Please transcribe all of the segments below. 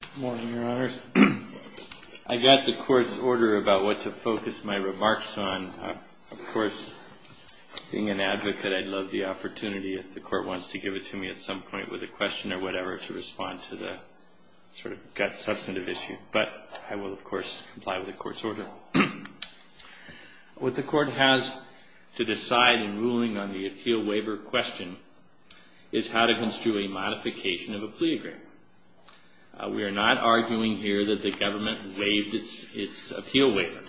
Good morning, your honors. I got the court's order about what to focus my remarks on. Of course, being an advocate, I'd love the opportunity if the court wants to give it to me at some point with a question or whatever to respond to the sort of gut substantive issue. But I will, of course, comply with the court's order. What the court has to decide in ruling on the appeal waiver question is how to construe a modification of a plea agreement. We are not arguing here that the government waived its appeal waiver.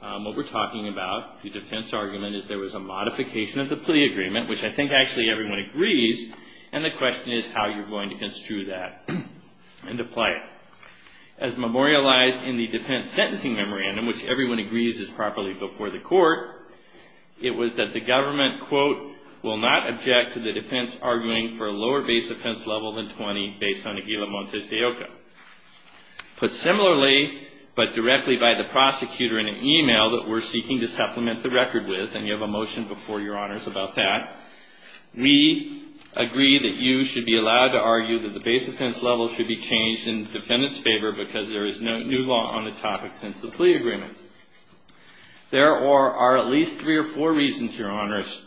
What we're talking about, the defense argument, is there was a modification of the plea agreement, which I think actually everyone agrees, and the question is how you're going to construe that and apply it. As memorialized in the defense sentencing memorandum, which everyone agrees is properly before the court, it was that the government, quote, will not object to the defense arguing for a lower base offense level than 20 based on Aguila Montes de Oca. Put similarly, but directly by the prosecutor in an e-mail that we're seeking to supplement the record with, and you have a motion before your honors about that. We agree that you should be allowed to argue that the base offense level should be changed in the defendant's favor because there is no new law on the topic since the plea agreement. There are at least three or four reasons, your honors,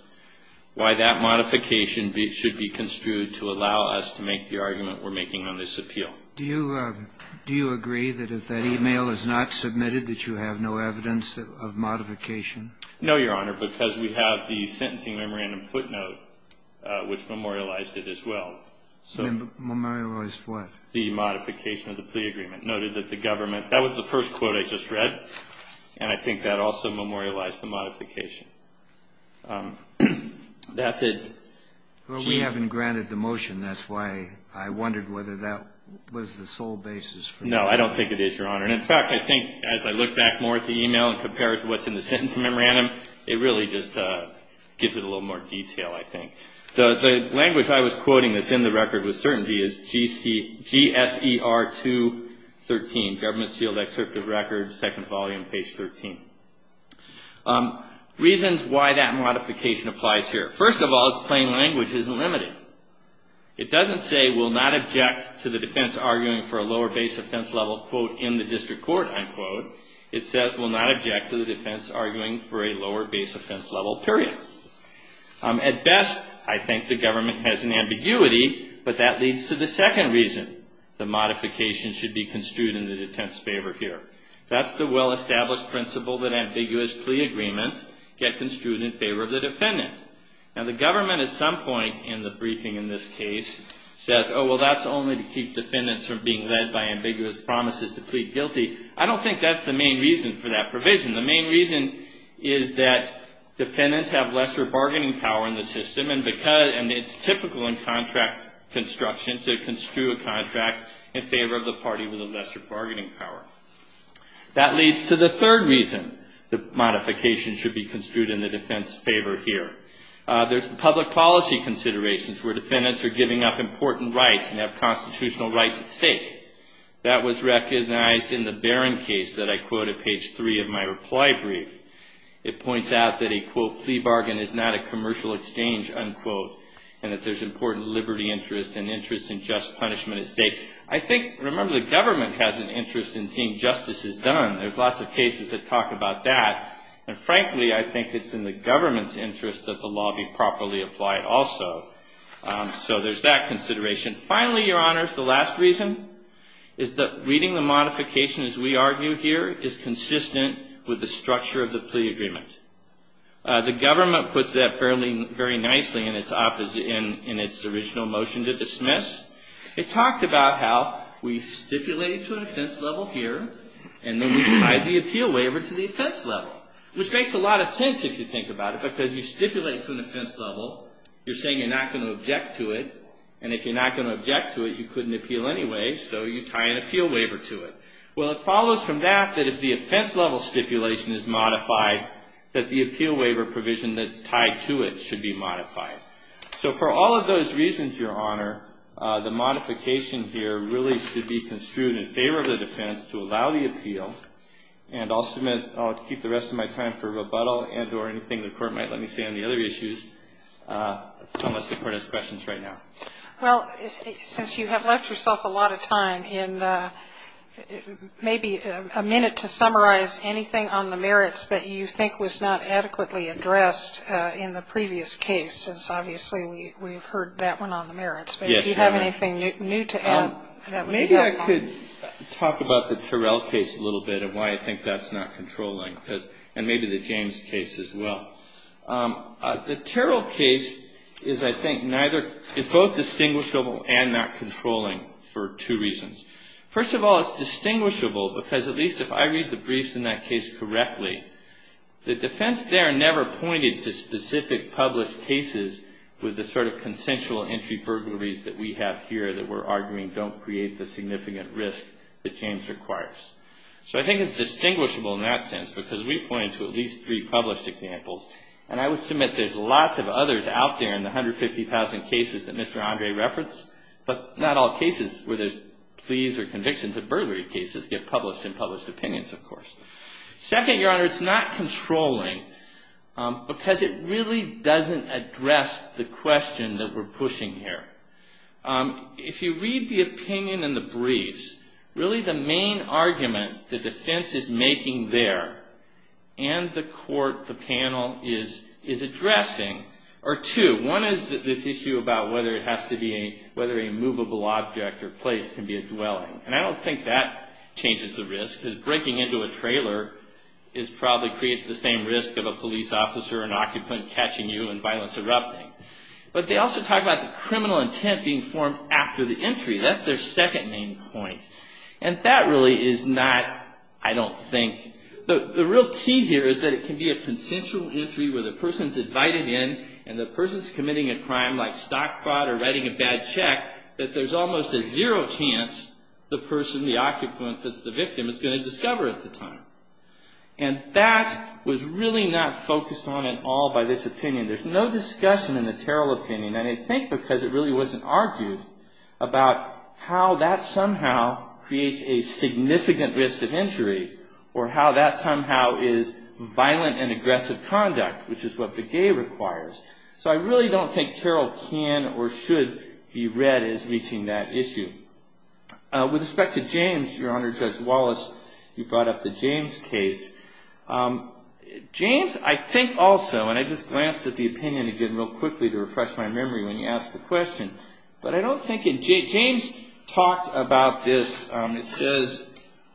why that modification should be construed to allow us to make the argument we're making on this appeal. Do you agree that if that e-mail is not submitted that you have no evidence of modification? No, your honor, because we have the sentencing memorandum footnote, which memorialized it as well. Memorialized what? The modification of the plea agreement, noted that the government, that was the first quote I just read, and I think that also memorialized the modification. That's it. Well, we haven't granted the motion. That's why I wondered whether that was the sole basis for that. No, I don't think it is, your honor. And in fact, I think as I look back more at the e-mail and compare it to what's in the sentencing memorandum, it really just gives it a little more detail, I think. The language I was quoting that's in the record with certainty is GSER 213, government sealed excerpt of record, second volume, page 13. Reasons why that modification applies here. First of all, its plain language isn't limited. It doesn't say, will not object to the defense arguing for a lower base offense level, quote, in the district court, unquote. It says, will not object to the defense arguing for a lower base offense level, period. At best, I think the government has an ambiguity, but that leads to the second reason. The modification should be construed in the defense's favor here. That's the well-established principle that ambiguous plea agreements get construed in favor of the defendant. Now, the government at some point in the briefing in this case says, oh, well, that's only to keep defendants from being led by ambiguous promises to plead guilty. I don't think that's the main reason for that provision. The main reason is that defendants have lesser bargaining power in the system, and it's typical in contract construction to construe a contract in favor of the party with a lesser bargaining power. That leads to the third reason. The modification should be construed in the defense's favor here. There's the public policy considerations where defendants are giving up important rights and have constitutional rights at stake. That was recognized in the Barron case that I quote at page three of my reply brief. It points out that a, quote, plea bargain is not a commercial exchange, unquote, and that there's important liberty interest and interest in just punishment at stake. I think, remember, the government has an interest in seeing justices done. There's lots of cases that talk about that. And frankly, I think it's in the government's interest that the law be properly applied also. So there's that consideration. Finally, Your Honors, the last reason is that reading the modification as we argue here is consistent with the structure of the plea agreement. The government puts that fairly, very nicely in its original motion to dismiss. It talked about how we stipulated to an offense level here, and then we tied the appeal waiver to the offense level. Which makes a lot of sense if you think about it, because you stipulate to an offense level. You're saying you're not going to object to it. And if you're not going to object to it, you couldn't appeal anyway, so you tie an appeal waiver to it. Well, it follows from that that if the offense level stipulation is modified, that the appeal waiver provision that's tied to it should be modified. So for all of those reasons, Your Honor, the modification here really should be construed in favor of the defense to allow the appeal. And I'll keep the rest of my time for rebuttal and or anything the Court might let me say on the other issues, unless the Court has questions right now. Well, since you have left yourself a lot of time and maybe a minute to summarize anything on the merits that you think was not adequately addressed in the previous case, since obviously we've heard that one on the merits. Yes, Your Honor. But if you have anything new to add, that would be helpful. Maybe I could talk about the Terrell case a little bit and why I think that's not controlling. And maybe the James case as well. The Terrell case is, I think, both distinguishable and not controlling for two reasons. First of all, it's distinguishable, because at least if I read the briefs in that case correctly, the defense there never pointed to specific published cases with the sort of consensual entry burglaries that we have here that we're arguing don't create the significant risk that James requires. So I think it's distinguishable in that sense, because we point to at least three published examples. And I would submit there's lots of others out there in the 150,000 cases that Mr. Andre referenced, but not all cases where there's pleas or convictions of burglary cases get published in published opinions, of course. Second, Your Honor, it's not controlling, because it really doesn't address the question that we're pushing here. If you read the opinion in the briefs, really the main argument the defense is making there, and the court, the panel, is addressing, are two. One is this issue about whether a movable object or place can be a dwelling. And I don't think that changes the risk, because breaking into a trailer probably creates the same risk of a police officer or an occupant catching you and violence erupting. But they also talk about the criminal intent being formed after the entry. That's their second main point. And that really is not, I don't think, the real key here is that it can be a consensual entry where the person's invited in, and the person's committing a crime like stock fraud or writing a bad check, that there's almost a zero chance the person, the occupant that's the victim is going to discover at the time. And that was really not focused on at all by this opinion. There's no discussion in the Terrell opinion, and I think because it really wasn't argued, about how that somehow creates a significant risk of injury, or how that somehow is violent and aggressive conduct, which is what Begay requires. So I really don't think Terrell can or should be read as reaching that issue. With respect to James, Your Honor, Judge Wallace, you brought up the James case. James, I think also, and I just glanced at the opinion again real quickly to refresh my memory when you asked the question. But I don't think, James talked about this. It says,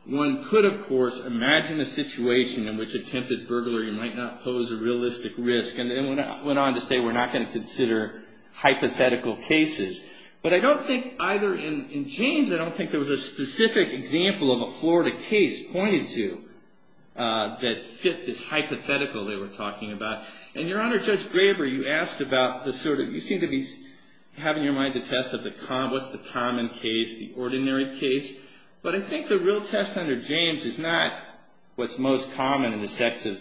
one could, of course, imagine a situation in which attempted burglary might not pose a realistic risk. And then went on to say, we're not going to consider hypothetical cases. But I don't think either in James, I don't think there was a specific example of a Florida case pointed to, that fit this hypothetical they were talking about. And Your Honor, Judge Graber, you asked about the sort of, you seem to be having your mind to test of the common, what's the common case, the ordinary case. But I think the real test under James is not what's most common in the sense of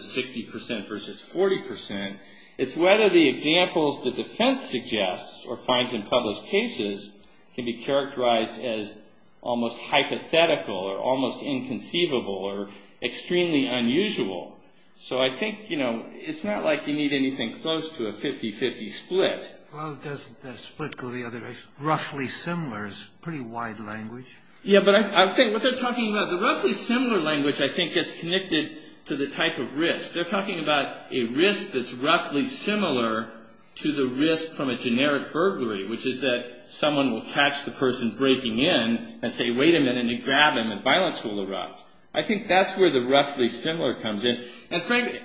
60% versus 40%. It's whether the examples the defense suggests or finds in public cases can be characterized as almost hypothetical or almost inconceivable or extremely unusual. So I think, you know, it's not like you need anything close to a 50-50 split. Well, does the split go the other way? Roughly similar is a pretty wide language. Yeah, but I think what they're talking about, the roughly similar language, I think, is connected to the type of risk. They're talking about a risk that's roughly similar to the risk from a generic burglary, which is that someone will catch the person breaking in and say, wait a minute, and grab him, and violence will erupt. I think that's where the roughly similar comes in. And frankly,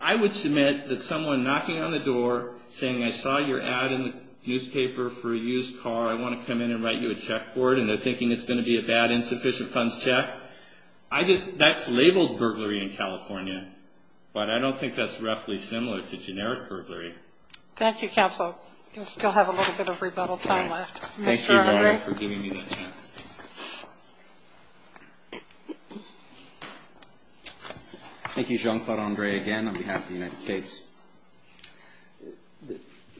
I would submit that someone knocking on the door saying, I saw your ad in the newspaper for a used car. I want to come in and write you a check for it. And they're thinking it's going to be a bad insufficient funds check. I just, that's labeled burglary in California. But I don't think that's roughly similar to generic burglary. Thank you, counsel. We still have a little bit of rebuttal time left. Thank you, Warren, for giving me that chance. Thank you. Thank you, Jean-Claude Andre, again, on behalf of the United States.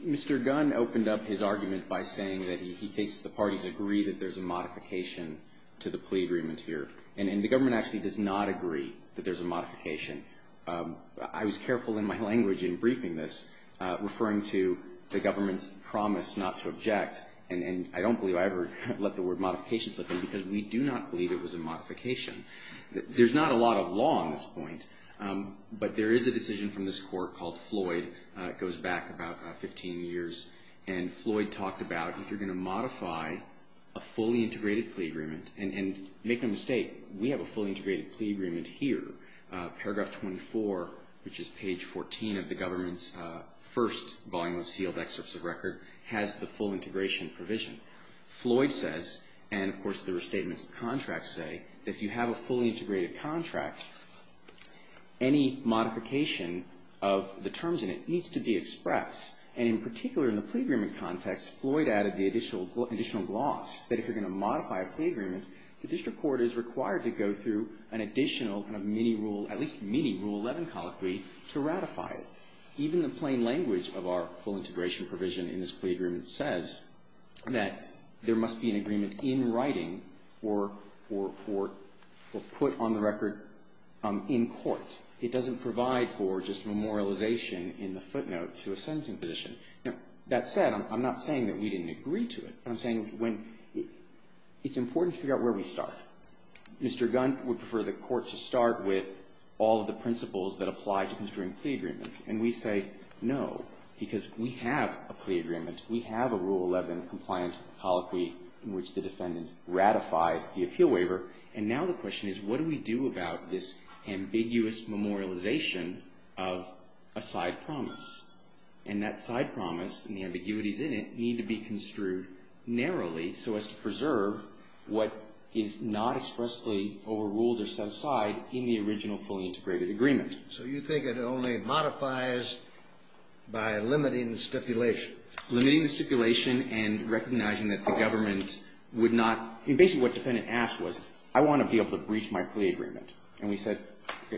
Mr. Gunn opened up his argument by saying that he thinks the parties agree that there's a modification to the plea agreement here. And the government actually does not agree that there's a modification. I was careful in my language in briefing this, referring to the government's promise not to object. And I don't believe I ever let the word modification slip in because we do not believe it was a modification. There's not a lot of law on this point. But there is a decision from this court called Floyd. It goes back about 15 years. And Floyd talked about if you're going to modify a fully integrated plea agreement. And make no mistake, we have a fully integrated plea agreement here. Paragraph 24, which is page 14 of the government's first volume of sealed excerpts of record, has the full integration provision. Floyd says, and of course there are statements of contract say, that if you have a fully integrated contract, any modification of the terms in it needs to be expressed. And in particular, in the plea agreement context, Floyd added the additional gloss that if you're going to modify a plea agreement, the district court is required to go through an additional kind of mini rule, at least mini rule 11 colloquy, to ratify it. Even the plain language of our full integration provision in this plea agreement says that there must be an agreement in writing or put on the record in court. It doesn't provide for just memorialization in the footnote to a sentencing position. Now, that said, I'm not saying that we didn't agree to it. I'm saying it's important to figure out where we start. Mr. Gunt would prefer the court to start with all of the principles that apply to construing plea agreements. And we say, no, because we have a plea agreement. We have a rule 11 compliant colloquy in which the defendant ratified the appeal waiver. And now the question is, what do we do about this ambiguous memorialization of a side promise? And that side promise and the ambiguities in it need to be construed narrowly so as to preserve what is not expressly overruled or set aside in the original fully integrated agreement. So you think it only modifies by limiting the stipulation? Limiting the stipulation and recognizing that the government would not, basically what the defendant asked was, I want to be able to breach my plea agreement. And we said,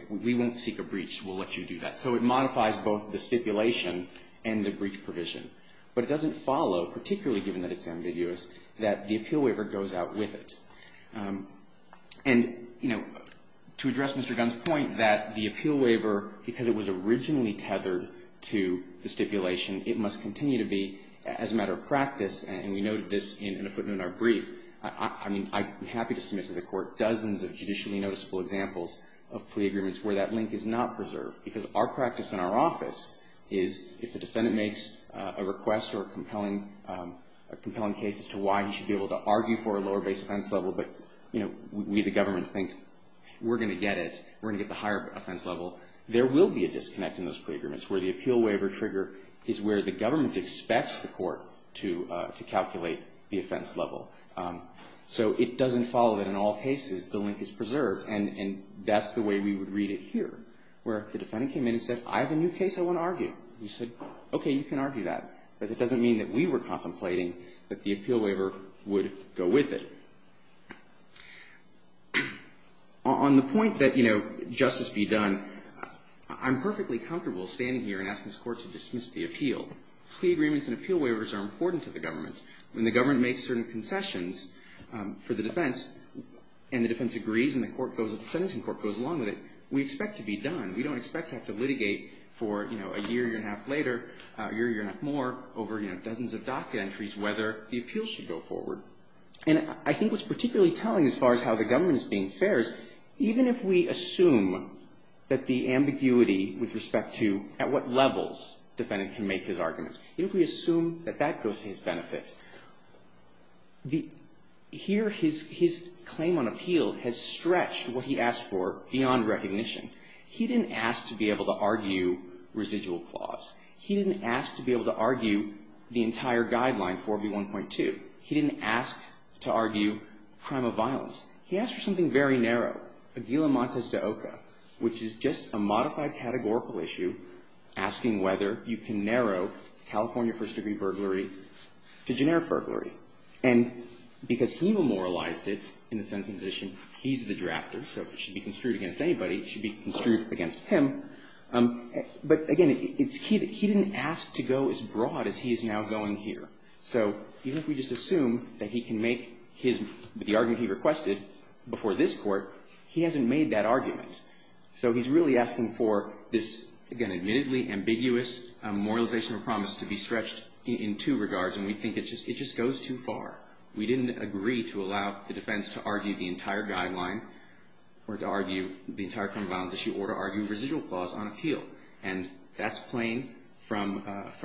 we won't seek a breach. We'll let you do that. So it modifies both the stipulation and the breach provision. But it doesn't follow, particularly given that it's ambiguous, that the appeal waiver goes out with it. And to address Mr. Gunt's point that the appeal waiver, because it was originally tethered to the stipulation, it must continue to be, as a matter of practice, and we noted this in a footnote in our brief, I'm happy to submit to the court dozens of judicially noticeable examples of plea agreements where that link is not preserved. Because our practice in our office is if the defendant makes a request or a compelling case as to why he should be able to argue for a lower base offense level, but we, the government, think we're going to get it, we're going to get the higher offense level, there will be a disconnect in those plea agreements where the appeal waiver trigger is where the government expects the court to calculate the offense level. So it doesn't follow that in all cases the link is preserved. And that's the way we would read it here, where if the defendant came in and said, I have a new case I want to argue, you said, okay, you can argue that. But that doesn't mean that we were contemplating that the appeal waiver would go with it. On the point that, you know, justice be done, I'm perfectly comfortable standing here and asking this Court to dismiss the appeal. Plea agreements and appeal waivers are important to the government. When the government makes certain concessions for the defense and the defense agrees and the court goes, the sentencing court goes along with it, we expect to be done. We don't expect to have to litigate for, you know, a year, year and a half later, a year, year and a half more over, you know, dozens of docket entries whether the appeal should go forward. And I think what's particularly telling as far as how the government is being fair is even if we assume that the ambiguity with respect to at what levels the defendant can make his arguments, even if we assume that that goes to his benefit, here his claim on appeal has stretched what he asked for beyond recognition. He didn't ask to be able to argue residual clause. He didn't ask to be able to argue the entire guideline, 4B1.2. He didn't ask to argue crime of violence. He asked for something very narrow, Aguila Montes de Oca, which is just a modified categorical issue asking whether you can narrow California first degree burglary to generic burglary. And because he memorialized it in the sentencing position, he's the drafter, so if it should be construed against anybody, it should be construed against him. But again, it's key that he didn't ask to go as broad as he is now going here. So even if we just assume that he can make his, the argument he requested before this court, he hasn't made that argument. So he's really asking for this, again, admittedly ambiguous memorialization of promise to be stretched in two regards, and we think it just goes too far. We didn't agree to allow the defense to argue the entire guideline, or to argue the entire crime of violence issue, or to argue residual clause on appeal. And that's plain from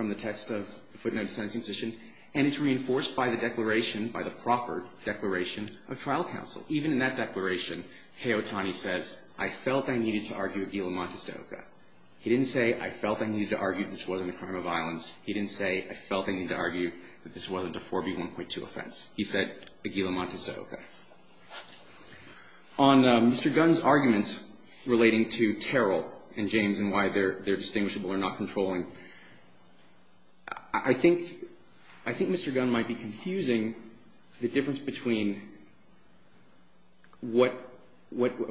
the text of the footnote of the sentencing position, and it's reinforced by the declaration, by the proffered declaration of trial counsel. So even in that declaration, K. Otani says, I felt I needed to argue a gila montes de oca. He didn't say, I felt I needed to argue this wasn't a crime of violence. He didn't say, I felt I needed to argue that this wasn't a 4B1.2 offense. He said, a gila montes de oca. On Mr. Gunn's arguments relating to Terrell and James and why they're distinguishable or not controlling, I think Mr. Gunn might be confusing the difference between what,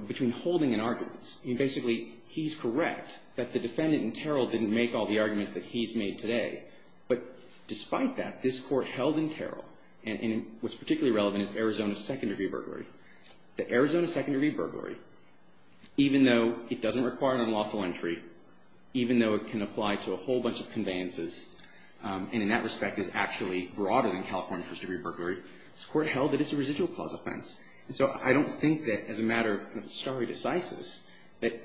between holding and arguments. I mean, basically, he's correct that the defendant in Terrell didn't make all the arguments that he's made today. But despite that, this Court held in Terrell, and what's particularly relevant is Arizona Second Degree Burglary, that Arizona Second Degree Burglary, even though it doesn't require an unlawful entry, even though it can apply to a whole bunch of conveyances, and in that respect is actually broader than California First Degree Burglary, this Court held that it's a residual clause offense. And so I don't think that, as a matter of stare decisis, that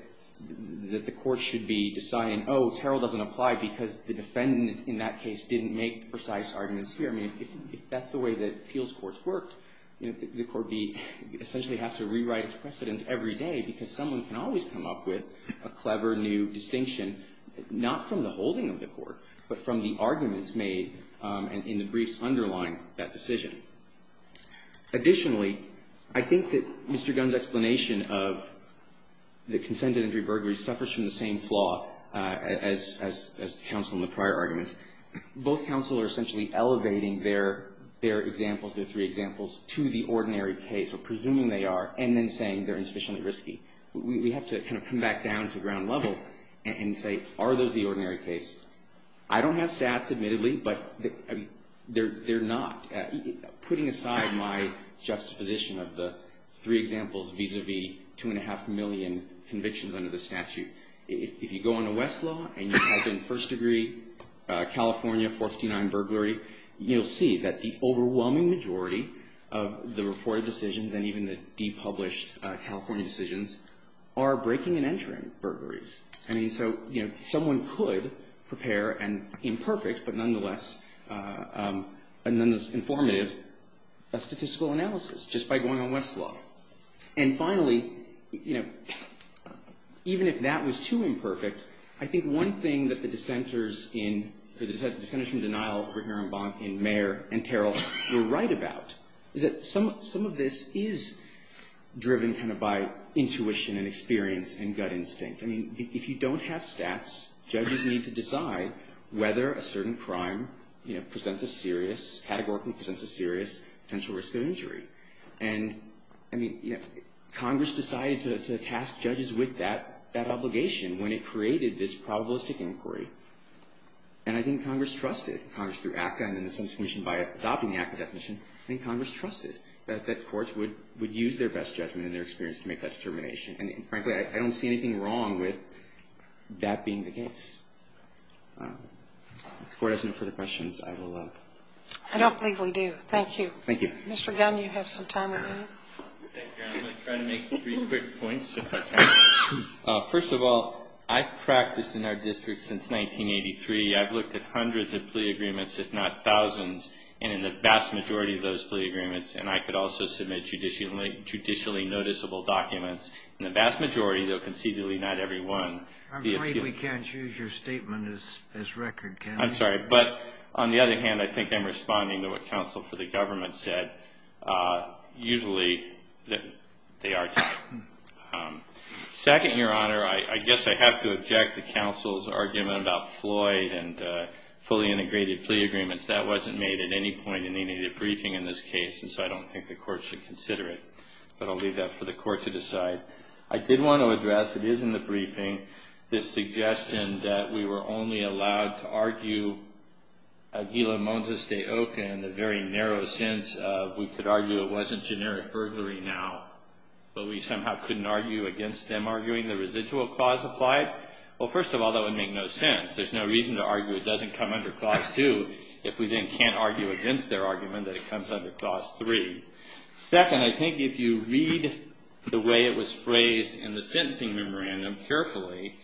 the Court should be deciding, oh, Terrell doesn't apply because the defendant in that case didn't make precise arguments here. I mean, if that's the way that appeals courts work, the Court would essentially have to rewrite its precedent every day because someone can always come up with a clever new distinction, not from the holding of the court, but from the arguments made in the briefs underlying that decision. Additionally, I think that Mr. Gunn's explanation of the consented entry burglary suffers from the same flaw as the counsel in the prior argument. Both counsel are essentially elevating their examples, their three examples, to the ordinary case, or presuming they are, and then saying they're insufficiently risky. We have to kind of come back down to ground level and say, are those the ordinary case? I don't have stats, admittedly, but they're not. Putting aside my juxtaposition of the three examples vis-a-vis two and a half million convictions under the statute, if you go into Westlaw and you type in First Degree California 439 Burglary, you'll see that the overwhelming majority of the reported decisions and even the depublished California decisions are breaking and entering burglaries. I mean, so, you know, someone could prepare an imperfect but nonetheless informative statistical analysis just by going on Westlaw. And finally, you know, even if that was too imperfect, I think one thing that the dissenters in, or the dissenters from denial over here in Mayer and Terrell were right about, is that some of this is driven kind of by intuition and experience and gut instinct. I mean, if you don't have stats, judges need to decide whether a certain crime, you know, presents a serious, categorically presents a serious potential risk of injury. And, I mean, you know, Congress decided to task judges with that obligation when it created this probabilistic inquiry. And I think Congress trusted, Congress through ACCA and then the Sentencing Commission by adopting the ACCA definition, I think Congress trusted that courts would use their best judgment and their experience to make that determination. And frankly, I don't see anything wrong with that being the case. If the Court has no further questions, I will. I don't believe we do. Thank you. Mr. Gunn, you have some time remaining. Thank you. I'm going to try to make three quick points, if I can. First of all, I've practiced in our district since 1983. I've looked at hundreds of plea agreements, if not thousands, and in the vast majority of those plea agreements, and I could also submit judicially noticeable documents. In the vast majority, though conceivably not every one, the appeal ---- I'm afraid we can't use your statement as record, can we? I'm sorry. But on the other hand, I think I'm responding to what counsel for the government said. Usually, they are tight. Second, Your Honor, I guess I have to object to counsel's argument about Floyd and fully integrated plea agreements. That wasn't made at any point in any debriefing in this case, and so I don't think the Court should consider it. But I'll leave that for the Court to decide. I did want to address, it is in the briefing, this suggestion that we were only allowed to argue Aguila Montes de Oca in the very narrow sense of we could argue it wasn't generic burglary now, but we somehow couldn't argue against them arguing the residual clause applied. Well, first of all, that would make no sense. There's no reason to argue it doesn't come under Clause 2 if we then can't argue against their argument that it comes under Clause 3. Second, I think if you read the way it was phrased in the sentencing memorandum carefully,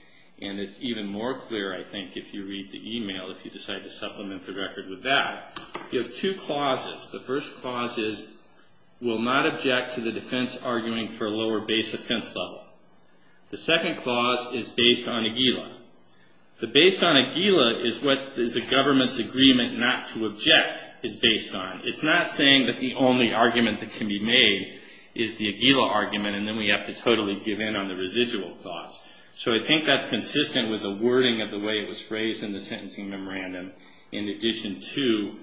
and it's even more clear, I think, if you read the email, if you decide to supplement the record with that, you have two clauses. The first clause is we'll not object to the defense arguing for a lower base offense level. The second clause is based on Aguila. The based on Aguila is what the government's agreement not to object is based on. It's not saying that the only argument that can be made is the Aguila argument, and then we have to totally give in on the residual clause. So I think that's consistent with the wording of the way it was phrased in the sentencing memorandum in addition to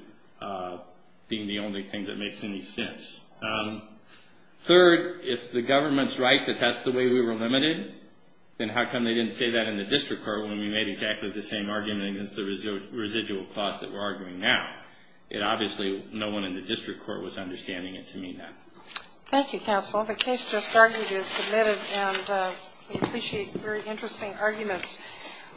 being the only thing that makes any sense. Third, if the government's right that that's the way we were limited, then how come they didn't say that in the district court when we made exactly the same argument against the residual clause that we're arguing now? Obviously, no one in the district court was understanding it to mean that. Thank you, counsel. The case just argued is submitted, and we appreciate very interesting arguments.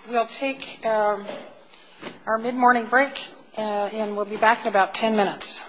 We'll take our mid-morning break, and we'll be back in about ten minutes.